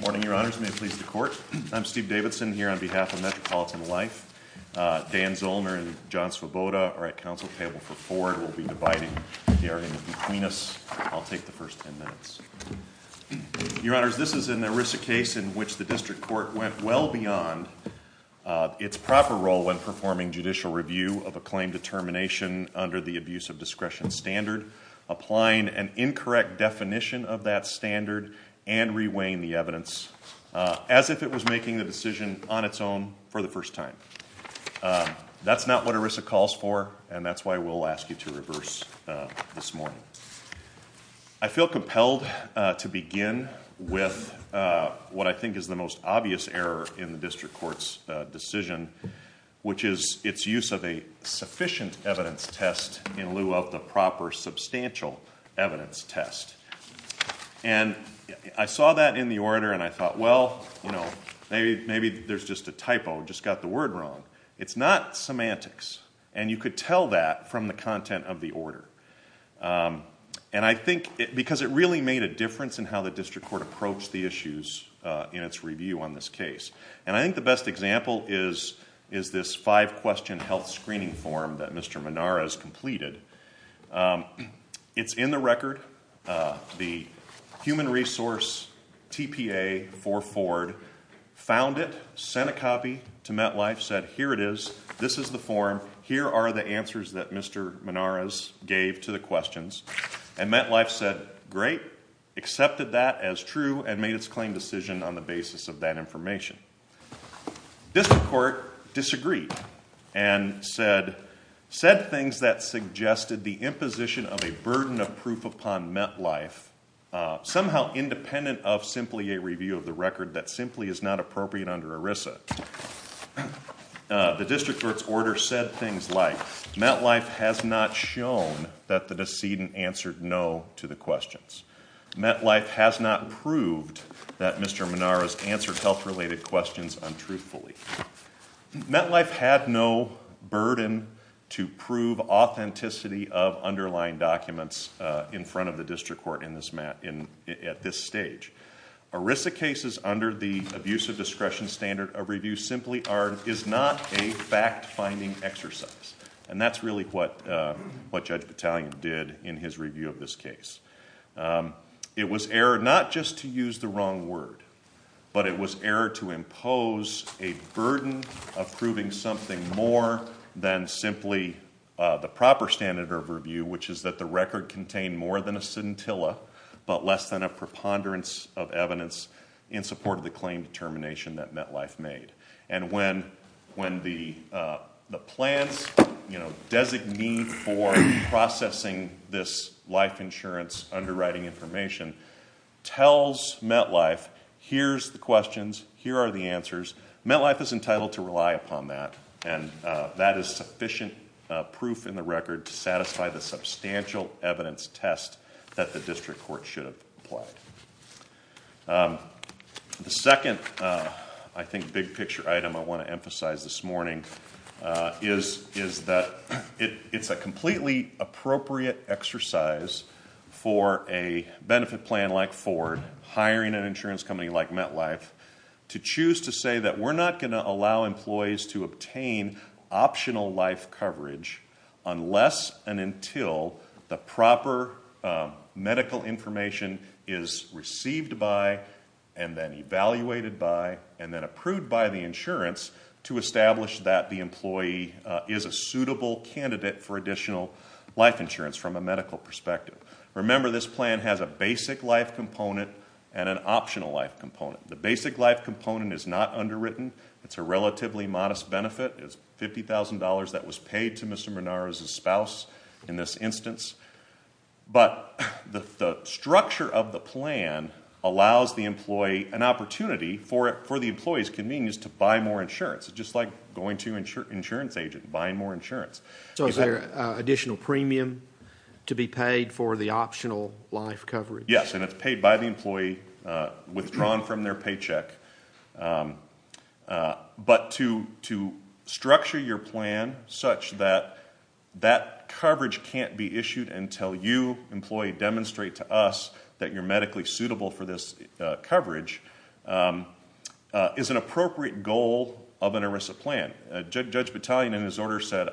Morning, your honors. May it please the court. I'm Steve Davidson here on behalf of Metropolitan Life. Dan Zollner and John Svoboda are at council table for four. We'll be dividing the area between us. I'll take the first ten minutes. Your honors, this is an erisic case in which the district court went well beyond its proper role when performing judicial review of a claim determination under the abuse of discretion standard, applying an incorrect definition of that standard, and reweighing the evidence as if it was making the decision on its own for the first time. That's not what ERISA calls for, and that's why we'll ask you to reverse this morning. I feel compelled to begin with what I think is the most obvious error in the district court's decision, which is its use of a sufficient evidence test in lieu of the proper substantial evidence test. And I saw that in the order and I thought, well, maybe there's just a typo, just got the word wrong. It's not semantics, and you could tell that from the content of the order. And I think because it really made a difference in how the district court approached the issues in its review on this case. And I think the best example is this five-question health screening form that Mr. Minara has completed. It's in the record. The human resource TPA for Ford found it, sent a copy to MetLife, said, here it is. This is the form. Here are the answers that Mr. Minara's gave to the questions. And MetLife said, great, accepted that as true, and made its claim decision on the basis of that information. District court disagreed and said, said things that suggested the imposition of a burden of proof upon MetLife, somehow independent of simply a review of the record that simply is not appropriate under ERISA. The district court's order said things like, MetLife has not shown that the decedent answered no to the questions. MetLife has not proved that Mr. Minara's answered health-related questions untruthfully. MetLife had no burden to prove authenticity of underlying documents in front of the district court at this stage. ERISA cases under the abuse of discretion standard of review simply is not a fact-finding exercise. And that's really what Judge Battalion did in his review of this case. It was error not just to use the wrong word. But it was error to impose a burden of proving something more than simply the proper standard of review, which is that the record contain more than a scintilla, but less than a preponderance of evidence, in support of the claim determination that MetLife made. And when the plans designee for processing this life insurance underwriting information tells MetLife, here's the questions, here are the answers, MetLife is entitled to rely upon that. And that is sufficient proof in the record to satisfy the substantial evidence test that the district court should have applied. The second, I think, big picture item I want to emphasize this morning, is that it's a completely appropriate exercise for a benefit plan like Ford, hiring an insurance company like MetLife, to choose to say that we're not going to allow employees to obtain optional life coverage, unless and until the proper medical information is received by, and then evaluated by, and then approved by the insurance, to establish that the employee is a suitable candidate for additional life insurance from a medical perspective. Remember, this plan has a basic life component and an optional life component. The basic life component is not underwritten. It's a relatively modest benefit. It's $50,000 that was paid to Mr. Monaro's spouse in this instance. But the structure of the plan allows the employee an opportunity for the employee's convenience to buy more insurance, just like going to an insurance agent and buying more insurance. So is there an additional premium to be paid for the optional life coverage? Yes, and it's paid by the employee, withdrawn from their paycheck. But to structure your plan such that that coverage can't be issued until you, employee, demonstrate to us that you're medically suitable for this coverage is an appropriate goal of an ERISA plan. Judge Battaglione, in his order, said,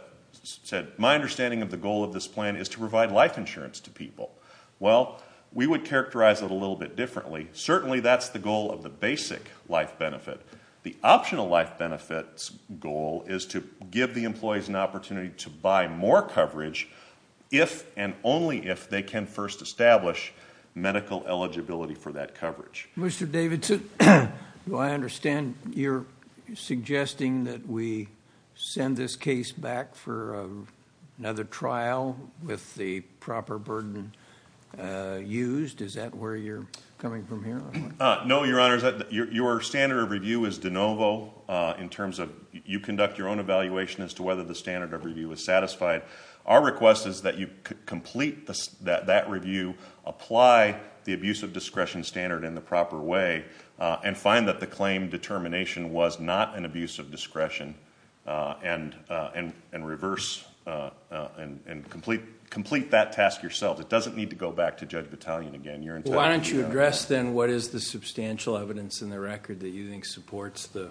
my understanding of the goal of this plan is to provide life insurance to people. Well, we would characterize it a little bit differently. Certainly, that's the goal of the basic life benefit. The optional life benefit's goal is to give the employees an opportunity to buy more coverage if and only if they can first establish medical eligibility for that coverage. Mr. Davidson, I understand you're suggesting that we send this case back for another trial with the proper burden used. Is that where you're coming from here? No, Your Honor. Your standard of review is de novo in terms of, you conduct your own evaluation as to whether the standard of review is satisfied. Our request is that you complete that review, apply the abuse of discretion standard in the proper way, and find that the claim determination was not an abuse of discretion, and complete that task yourself. It doesn't need to go back to Judge Battaglione again. Why don't you address, then, what is the substantial evidence in the record that you think supports the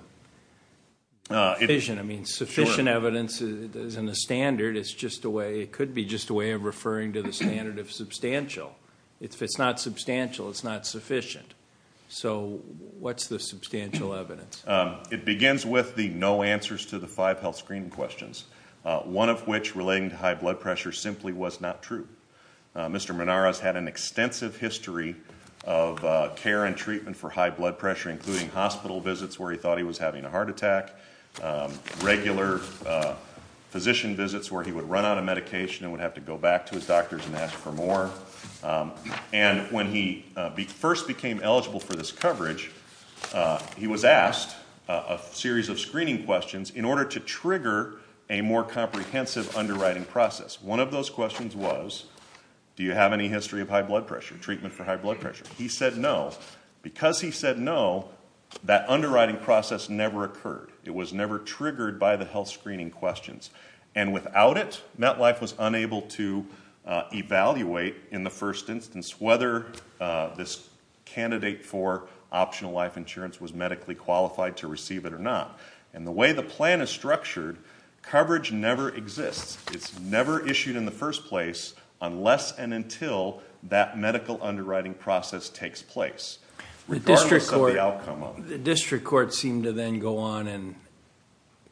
sufficient? I mean, sufficient evidence isn't a standard. It could be just a way of referring to the standard of substantial. If it's not substantial, it's not sufficient. So what's the substantial evidence? It begins with the no answers to the five health screening questions, one of which relating to high blood pressure simply was not true. Mr. Menara has had an extensive history of care and treatment for high blood pressure, including hospital visits where he thought he was having a heart attack, regular physician visits where he would run out of medication and would have to go back to his doctors and ask for more. He was asked a series of screening questions in order to trigger a more comprehensive underwriting process. One of those questions was, do you have any history of high blood pressure, treatment for high blood pressure? He said no. Because he said no, that underwriting process never occurred. It was never triggered by the health screening questions. And without it, MetLife was unable to evaluate in the first instance whether this candidate for optional life insurance was medically qualified to receive it or not. And the way the plan is structured, coverage never exists. It's never issued in the first place unless and until that medical underwriting process takes place. Regardless of the outcome of it. The district court seemed to then go on and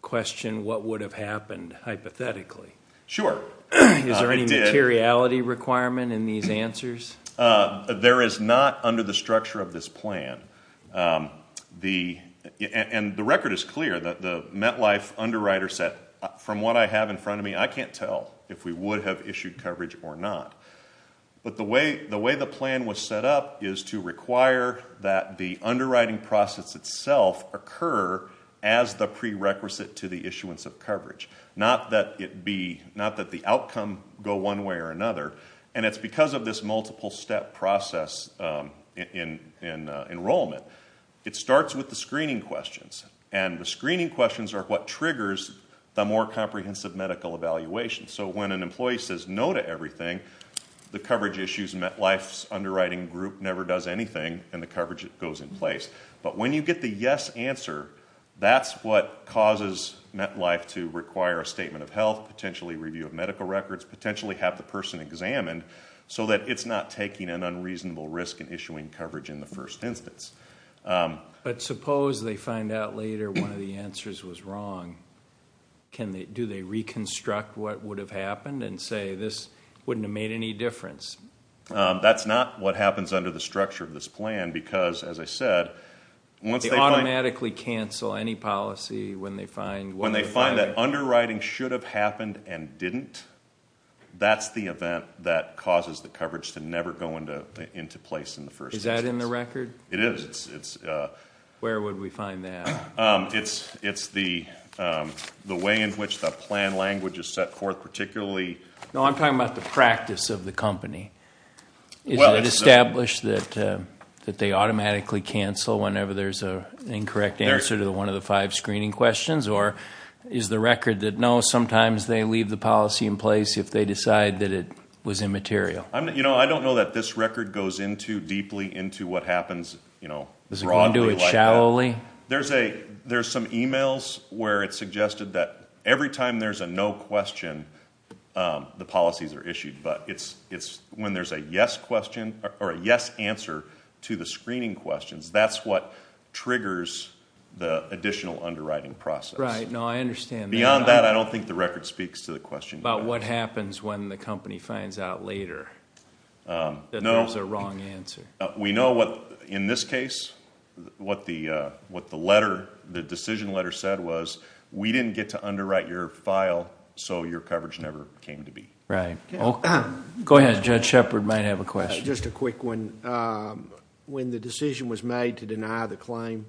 question what would have happened hypothetically. Sure. Is there any materiality requirement in these answers? There is not under the structure of this plan. And the record is clear that the MetLife underwriter said, from what I have in front of me, I can't tell if we would have issued coverage or not. But the way the plan was set up is to require that the underwriting process itself occur as the prerequisite to the issuance of coverage. Not that the outcome go one way or another. And it's because of this multiple step process in enrollment. It starts with the screening questions. And the screening questions are what triggers the more comprehensive medical evaluation. So when an employee says no to everything, the coverage issues, MetLife's underwriting group never does anything, and the coverage goes in place. But when you get the yes answer, that's what causes MetLife to require a statement of health, potentially review of medical records, potentially have the person examined, so that it's not taking an unreasonable risk in issuing coverage in the first instance. But suppose they find out later one of the answers was wrong. Do they reconstruct what would have happened and say, this wouldn't have made any difference? That's not what happens under the structure of this plan because, as I said, once they find it. They automatically cancel any policy when they find what was right. When they find that underwriting should have happened and didn't, that's the event that causes the coverage to never go into place in the first instance. Is that in the record? It is. Where would we find that? It's the way in which the plan language is set forth, particularly. No, I'm talking about the practice of the company. Is it established that they automatically cancel whenever there's an incorrect answer to one of the five screening questions? Or is the record that, no, sometimes they leave the policy in place if they decide that it was immaterial? I don't know that this record goes into deeply into what happens broadly like that. There's some e-mails where it's suggested that every time there's a no question, the policies are issued. But when there's a yes answer to the screening questions, that's what triggers the additional underwriting process. Right. No, I understand that. Beyond that, I don't think the record speaks to the question. About what happens when the company finds out later that there's a wrong answer. We know what, in this case, what the decision letter said was, we didn't get to underwrite your file, so your coverage never came to be. Right. Go ahead. Judge Shepard might have a question. Just a quick one. When the decision was made to deny the claim,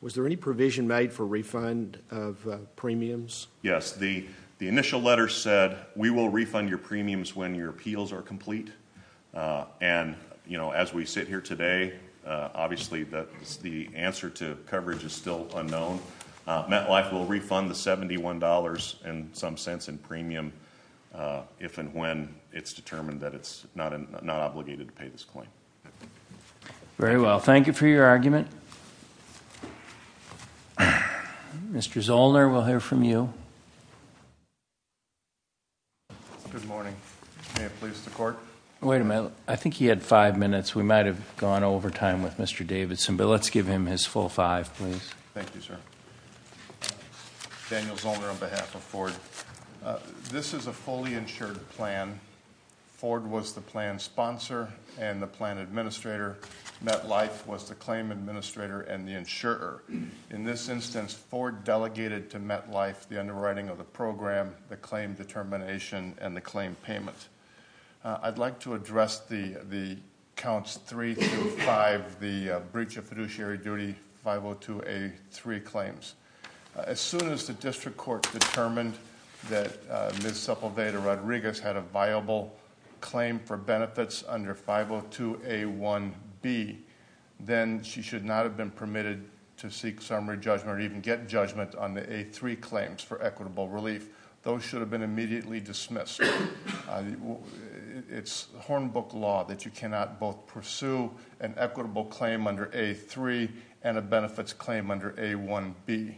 was there any provision made for refund of premiums? Yes. The initial letter said, we will refund your premiums when your appeals are complete. And as we sit here today, obviously, the answer to coverage is still unknown. MetLife will refund the $71, in some sense, in premium if and when it's determined that it's not obligated to pay this claim. Very well. Thank you for your argument. Mr. Zollner, we'll hear from you. Good morning. May it please the court? Wait a minute. I think he had five minutes. We might have gone over time with Mr. Davidson, but let's give him his full five, please. Thank you, sir. Daniel Zollner on behalf of Ford. This is a fully insured plan. Ford was the plan sponsor and the plan administrator. MetLife was the claim administrator and the insurer. In this instance, Ford delegated to MetLife the underwriting of the program, the claim determination, and the claim payment. I'd like to address the counts three through five, the breach of fiduciary duty 502A3 claims. As soon as the district court determined that Ms. Sepulveda Rodriguez had a viable claim for benefits under 502A1B, then she should not have been permitted to seek summary judgment or even get judgment on the A3 claims for equitable relief. Those should have been immediately dismissed. It's Hornbook law that you cannot both pursue an equitable claim under A3 and a benefits claim under A1B.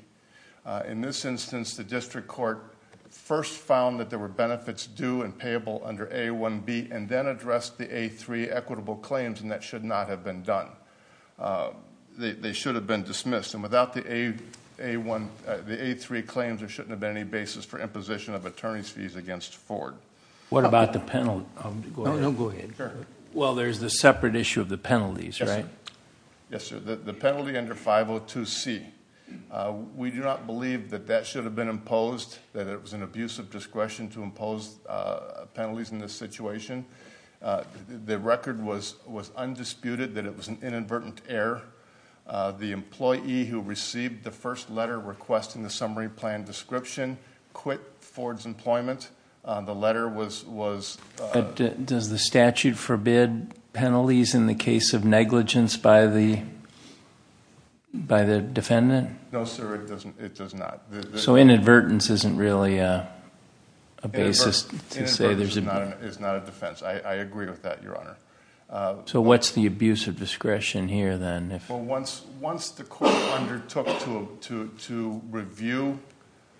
In this instance, the district court first found that there were benefits due and payable under A1B, and then addressed the A3 equitable claims, and that should not have been done. They should have been dismissed. And without the A3 claims, there shouldn't have been any basis for imposition of attorney's fees against Ford. What about the penalty? No, go ahead. Well, there's the separate issue of the penalties, right? Yes, sir. The penalty under 502C. We do not believe that that should have been imposed, that it was an abuse of discretion to impose penalties in this situation. The record was undisputed that it was an inadvertent error. The employee who received the first letter requesting the summary plan description quit Ford's employment. The letter was- Does the statute forbid penalties in the case of negligence by the defendant? No, sir, it does not. So inadvertence isn't really a basis to say there's- Inadvertence is not a defense. I agree with that, Your Honor. So what's the abuse of discretion here then? Well, once the court undertook to review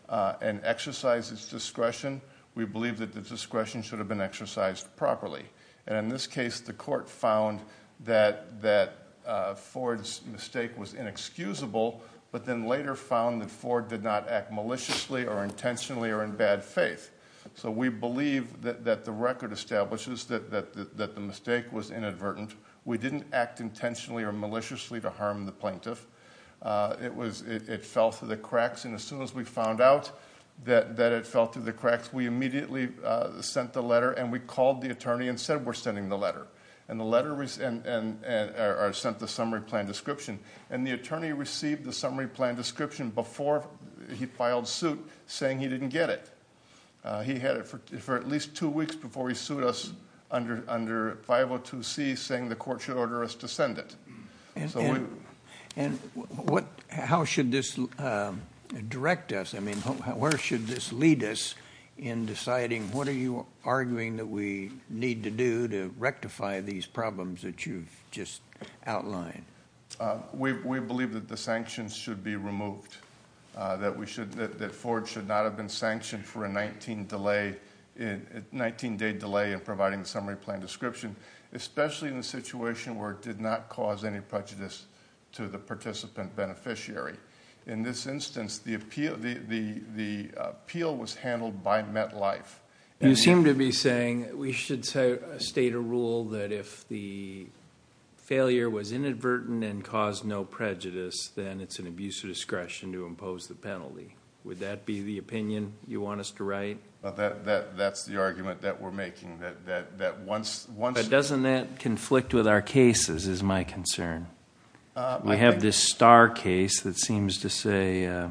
and exercise its discretion, we believe that the discretion should have been exercised properly. And in this case, the court found that Ford's mistake was inexcusable, but then later found that Ford did not act maliciously or intentionally or in bad faith. So we believe that the record establishes that the mistake was inadvertent. We didn't act intentionally or maliciously to harm the plaintiff. It fell through the cracks. And as soon as we found out that it fell through the cracks, we immediately sent the letter. And we called the attorney and said, we're sending the letter. And the letter sent the summary plan description. And the attorney received the summary plan description before he filed suit saying he didn't get it. He had it for at least two weeks before he sued us under 502C saying the court should order us to send it. And how should this direct us? I mean, where should this lead us in deciding what are you arguing that we need to do to rectify these problems that you've just outlined? We believe that the sanctions should be removed. That Ford should not have been sanctioned for a 19 day delay in providing the summary plan description, especially in a situation where it did not cause any prejudice to the participant beneficiary. In this instance, the appeal was handled by MetLife. You seem to be saying we should state a rule that if the failure was inadvertent and caused no prejudice, then it's an abuse of discretion to impose the penalty. Would that be the opinion you want us to write? That's the argument that we're making. But doesn't that conflict with our cases is my concern. We have this Starr case that seems to say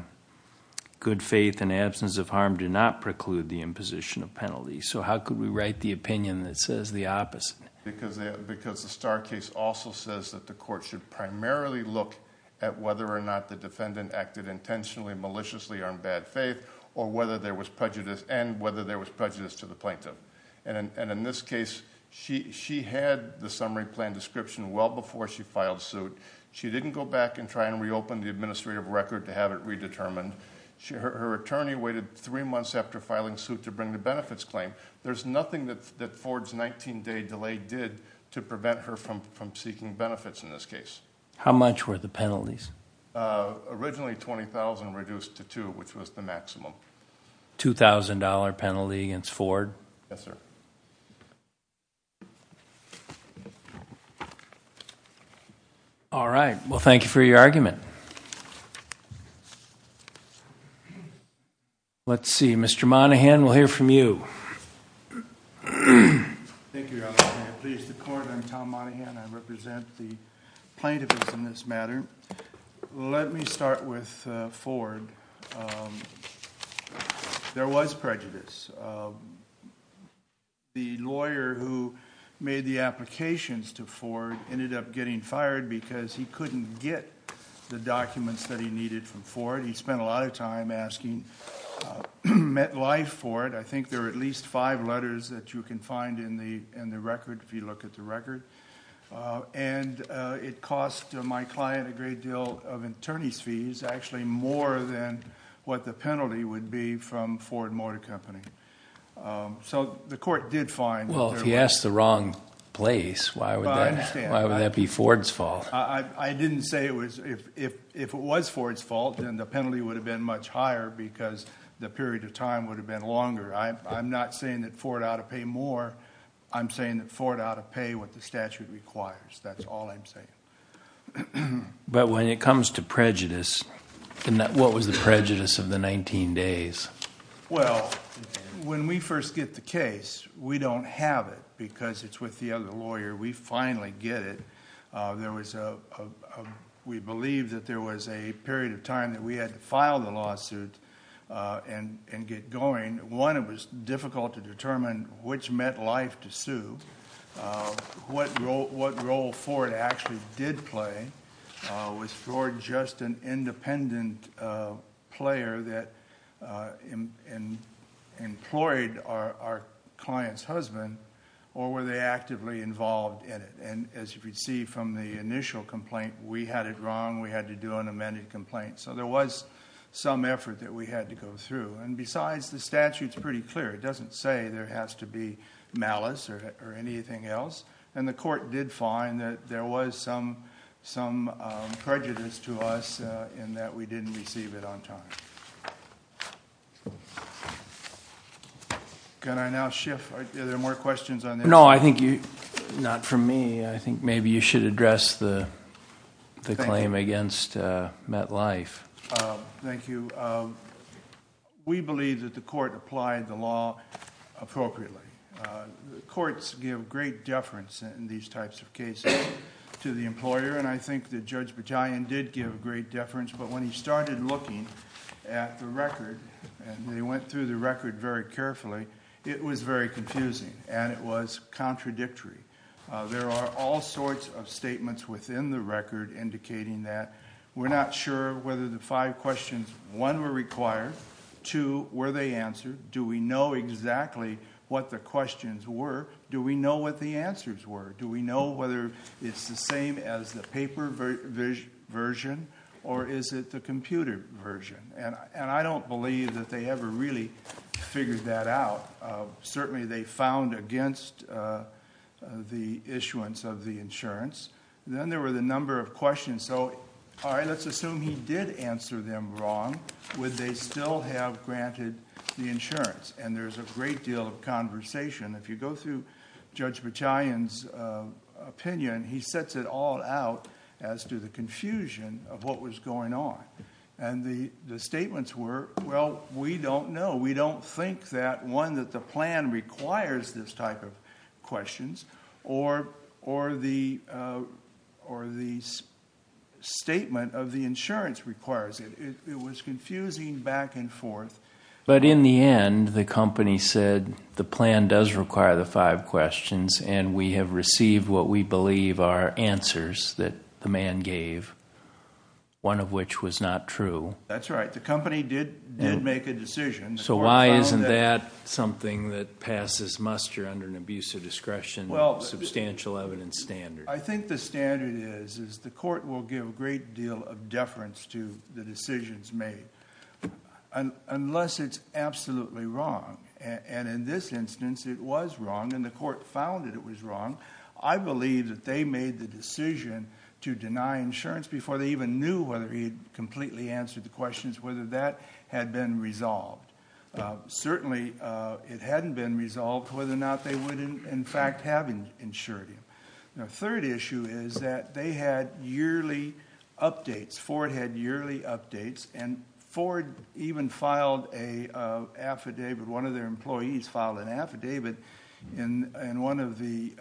good faith and absence of harm do not preclude the imposition of penalty. So how could we write the opinion that says the opposite? Because the Starr case also says that the court should primarily look at whether or not the defendant acted intentionally, maliciously, or in bad faith, and whether there was prejudice to the plaintiff. And in this case, she had the summary plan description well before she filed suit. She didn't go back and try and reopen the administrative record to have it redetermined. Her attorney waited three months after filing suit to bring the benefits claim. There's nothing that Ford's 19 day delay did to prevent her from seeking benefits in this case. How much were the penalties? Originally $20,000 reduced to $2,000, which was the maximum. $2,000 penalty against Ford? Yes, sir. All right. Well, thank you for your argument. Let's see. Mr. Monahan, we'll hear from you. Thank you, Your Honor. I'm pleased to court. I'm Tom Monahan. I represent the plaintiff in this matter. Let me start with Ford. There was prejudice. The lawyer who made the applications to Ford ended up getting fired because he couldn't get the documents that he needed from Ford. He spent a lot of time asking MetLife for it. I think there are at least five letters that you can find in the record if you look at the record. It cost my client a great deal of attorney's fees, actually more than what the penalty would be from Ford Motor Company. The court did find that there was- Well, if he asked the wrong place, why would that be Ford's fault? I didn't say it was. If it was Ford's fault, then the penalty would have been much higher because the period of time would have been longer. I'm not saying that Ford ought to pay more. I'm saying that Ford ought to pay what the statute requires. That's all I'm saying. When it comes to prejudice, what was the prejudice of the 19 days? When we first get the case, we don't have it because it's with the other lawyer. We finally get it. We believe that there was a period of time that we had to file the lawsuit and get going. One, it was difficult to determine which meant life to sue, what role Ford actually did play. Was Ford just an independent player that employed our client's husband, or were they actively involved in it? As you can see from the initial complaint, we had it wrong. We had to do an amended complaint. There was some effort that we had to go through. Besides, the statute is pretty clear. It doesn't say there has to be malice or anything else. The court did find that there was some prejudice to us in that we didn't receive it on time. Can I now shift? Are there more questions on this? No, not for me. I think maybe you should address the claim against met life. Thank you. We believe that the court applied the law appropriately. The courts give great deference in these types of cases to the employer. I think that Judge Bajayan did give great deference, but when he started looking at the record, and they went through the record very carefully, it was very confusing, and it was contradictory. There are all sorts of statements within the record indicating that. We're not sure whether the five questions, one, were required. Two, were they answered? Do we know exactly what the questions were? Do we know what the answers were? Do we know whether it's the same as the paper version, or is it the computer version? I don't believe that they ever really figured that out. Certainly, they found against the issuance of the insurance. Then there were the number of questions. All right, let's assume he did answer them wrong. Would they still have granted the insurance? There's a great deal of conversation. If you go through Judge Bajayan's opinion, he sets it all out as to the confusion of what was going on. The statements were, well, we don't know. We don't think that, one, that the plan requires this type of questions. Or the statement of the insurance requires it. It was confusing back and forth. But in the end, the company said the plan does require the five questions, and we have received what we believe are answers that the man gave, one of which was not true. That's right. The company did make a decision. So why isn't that something that passes muster under an abuse of discretion substantial evidence standard? I think the standard is the court will give a great deal of deference to the decisions made unless it's absolutely wrong. In this instance, it was wrong, and the court found that it was wrong. I believe that they made the decision to deny insurance before they even knew whether he had completely answered the questions, whether that had been resolved. Certainly it hadn't been resolved whether or not they would in fact have insured him. The third issue is that they had yearly updates. Ford had yearly updates, and Ford even filed an affidavit. In one of the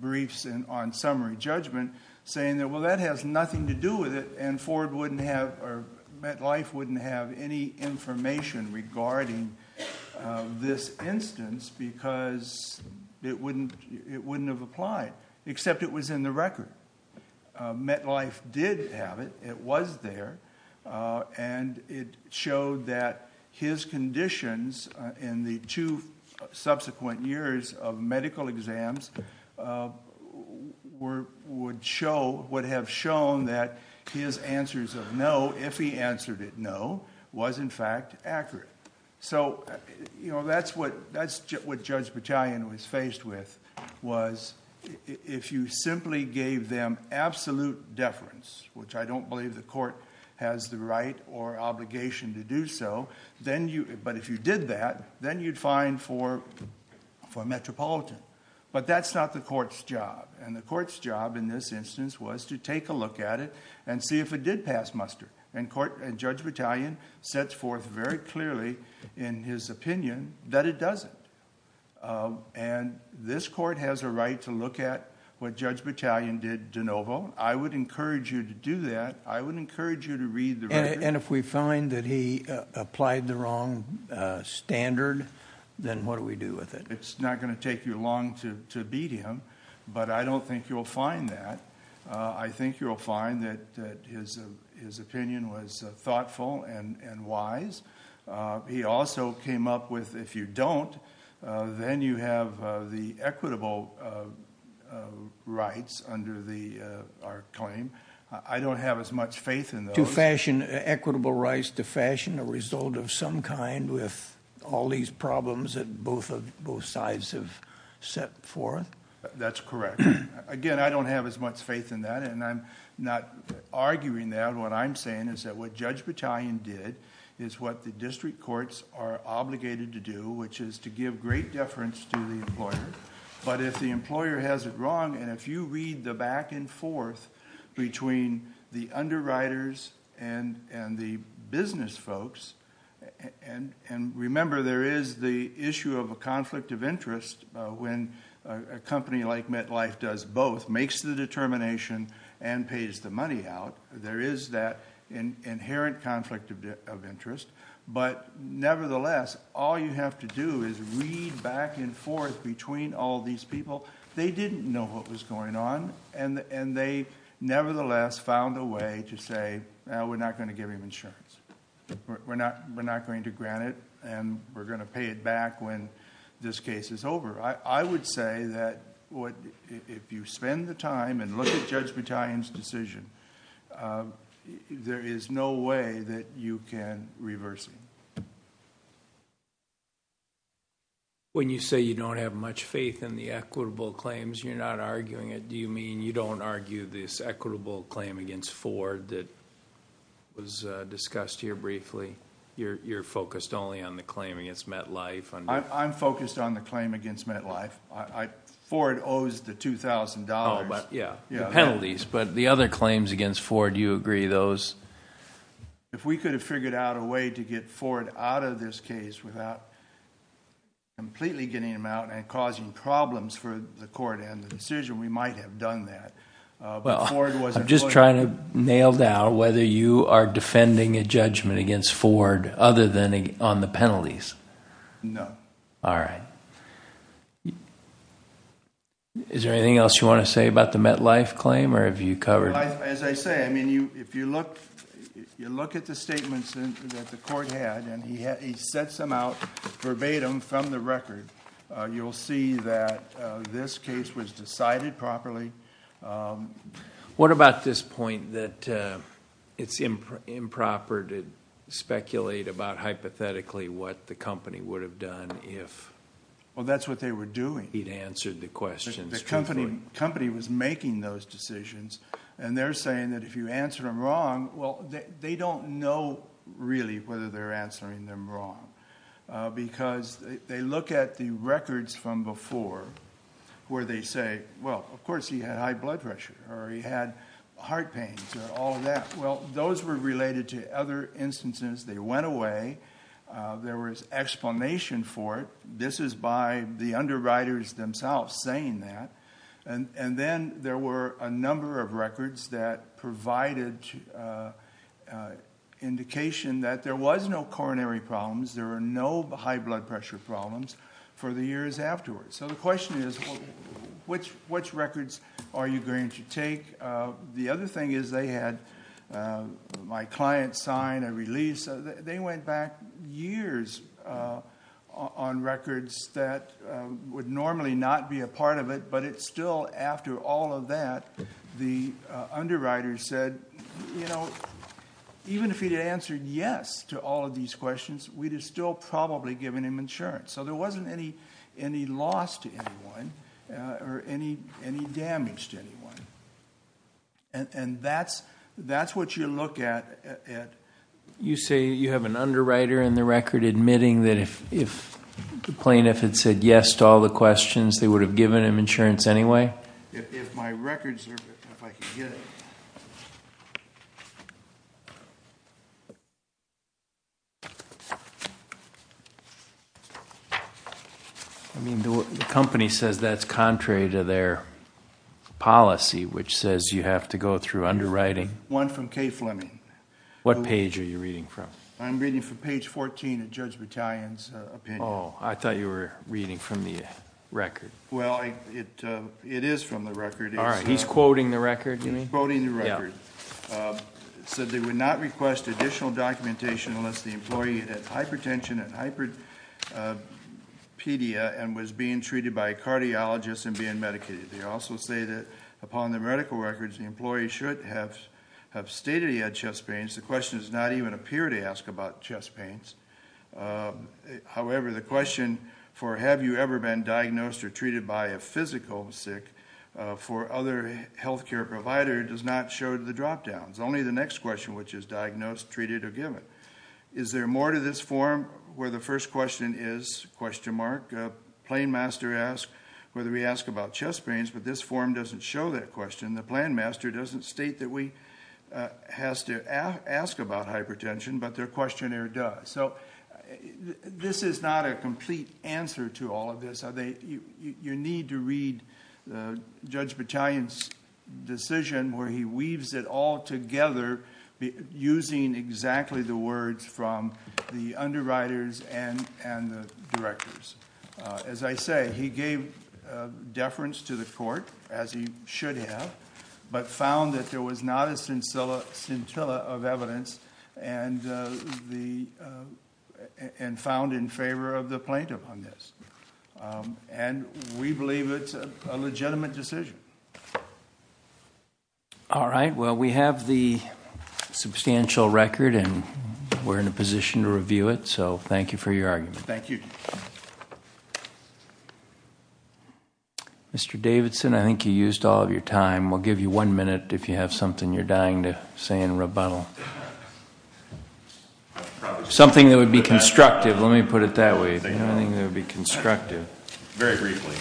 briefs on summary judgment, saying that, well, that has nothing to do with it, and Ford wouldn't have or MetLife wouldn't have any information regarding this instance because it wouldn't have applied, except it was in the record. MetLife did have it. It was there. And it showed that his conditions in the two subsequent years of medical exams would have shown that his answers of no, if he answered it no, was in fact accurate. That's what Judge Battalion was faced with, was if you simply gave them absolute deference, which I don't believe the court has the right or obligation to do so, but if you did that, then you'd fine for a metropolitan. But that's not the court's job. The court's job in this instance was to take a look at it and see if it did pass muster. And Judge Battalion sets forth very clearly in his opinion that it doesn't. And this court has a right to look at what Judge Battalion did de novo. I would encourage you to do that. I would encourage you to read the record. And if we find that he applied the wrong standard, then what do we do with it? It's not going to take you long to beat him, but I don't think you'll find that. I think you'll find that his opinion was thoughtful and wise. He also came up with if you don't, then you have the equitable rights under our claim. I don't have as much faith in those. Equitable rights to fashion a result of some kind with all these problems that both sides have set forth? That's correct. Again, I don't have as much faith in that, and I'm not arguing that. What I'm saying is that what Judge Battalion did is what the district courts are obligated to do, which is to give great deference to the employer. But if the employer has it wrong, and if you read the back and forth between the underwriters and the business folks, and remember there is the issue of a conflict of interest when a company like MetLife does both, makes the determination and pays the money out. There is that inherent conflict of interest. But nevertheless, all you have to do is read back and forth between all these people. They didn't know what was going on, and they nevertheless found a way to say, no, we're not going to give him insurance. We're not going to grant it, and we're going to pay it back when this case is over. I would say that if you spend the time and look at Judge Battalion's decision, there is no way that you can reverse it. When you say you don't have much faith in the equitable claims, you're not arguing it. Mr. Ford, that was discussed here briefly. You're focused only on the claim against MetLife. I'm focused on the claim against MetLife. Ford owes the $2,000. The penalties, but the other claims against Ford, do you agree those? If we could have figured out a way to get Ford out of this case without completely getting him out and causing problems for the court and the decision, we might have done that. I'm just trying to nail down whether you are defending a judgment against Ford other than on the penalties. No. All right. Is there anything else you want to say about the MetLife claim, or have you covered it? As I say, if you look at the statements that the court had, and he sets them out verbatim from the record, you'll see that this case was decided properly. What about this point that it's improper to speculate about hypothetically what the company would have done if he'd answered the questions truthfully? Well, that's what they were doing. The company was making those decisions, and they're saying that if you answer them wrong, well, they don't know really whether they're answering them wrong because they look at the records from before where they say, well, of course he had high blood pressure or he had heart pains or all of that. Well, those were related to other instances. They went away. There was explanation for it. This is by the underwriters themselves saying that. And then there were a number of records that provided indication that there was no coronary problems. There were no high blood pressure problems for the years afterwards. So the question is, which records are you going to take? The other thing is they had my client sign a release. They went back years on records that would normally not be a part of it, but it's still after all of that the underwriters said, you know, even if he had answered yes to all of these questions, we'd have still probably given him insurance. So there wasn't any loss to anyone or any damage to anyone. And that's what you look at. You say you have an underwriter in the record admitting that if the plaintiff had said yes to all the questions, they would have given him insurance anyway? If my records are... if I could get it. I mean, the company says that's contrary to their policy, which says you have to go through underwriting. One from Kay Fleming. What page are you reading from? I'm reading from page fourteen of Judge Battalion's opinion. Oh, I thought you were reading from the record. Well, it is from the record. All right. He's quoting the record, you mean? He's quoting the record. Yeah. It said they would not request additional documentation unless the employee had hypertension and hyperpedia and was being treated by a cardiologist and being medicated. They also say that upon the medical records, the employee should have stated he had chest pains. The question does not even appear to ask about chest pains. However, the question for have you ever been diagnosed or treated by a physical sick for other health care provider does not show the drop downs. Only the next question, which is diagnosed, treated, or given. Is there more to this form where the first question is question mark? Plainmaster asks whether we ask about chest pains, but this form doesn't show that question. The planmaster doesn't state that we have to ask about hypertension, but their questionnaire does. So this is not a complete answer to all of this. You need to read Judge Battalion's decision where he weaves it all together using exactly the words from the underwriters and the directors. As I say, he gave deference to the court, as he should have, but found that there was not a scintilla of evidence and found in favor of the plaintiff on this. And we believe it's a legitimate decision. All right. Well, we have the substantial record, and we're in a position to review it. So thank you for your argument. Thank you. Mr. Davidson, I think you used all of your time. We'll give you one minute if you have something you're dying to say in rebuttal. Something that would be constructive. Let me put it that way. Something that would be constructive. Very briefly,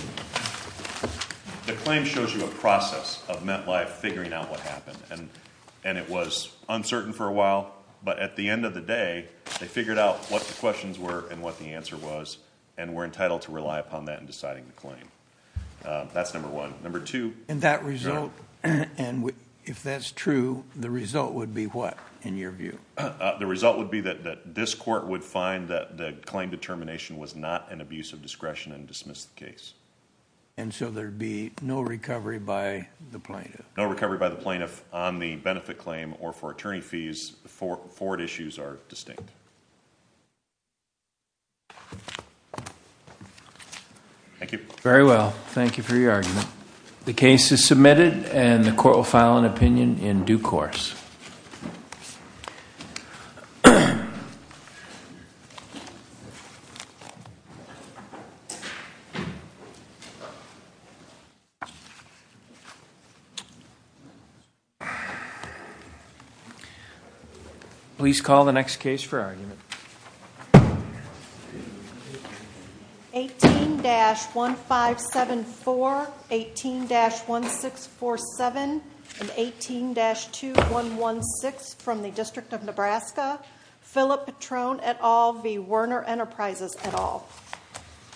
the claim shows you a process of MetLife figuring out what happened, and it was uncertain for a while, but at the end of the day, they figured out what the questions were and what the answer was, and we're entitled to rely upon that in deciding the claim. That's number one. Number two. And that result, if that's true, the result would be what, in your view? The result would be that this court would find that the claim determination was not an abuse of discretion and dismiss the case. And so there would be no recovery by the plaintiff? No recovery by the plaintiff on the benefit claim or for attorney fees. Forward issues are distinct. Thank you. Very well. Thank you for your argument. The case is submitted, and the court will file an opinion in due course. Please call the next case for argument. 18-1574, 18-1647, and 18-2116 from the District of Nebraska, Philip Patron et al. v. Werner Enterprises et al.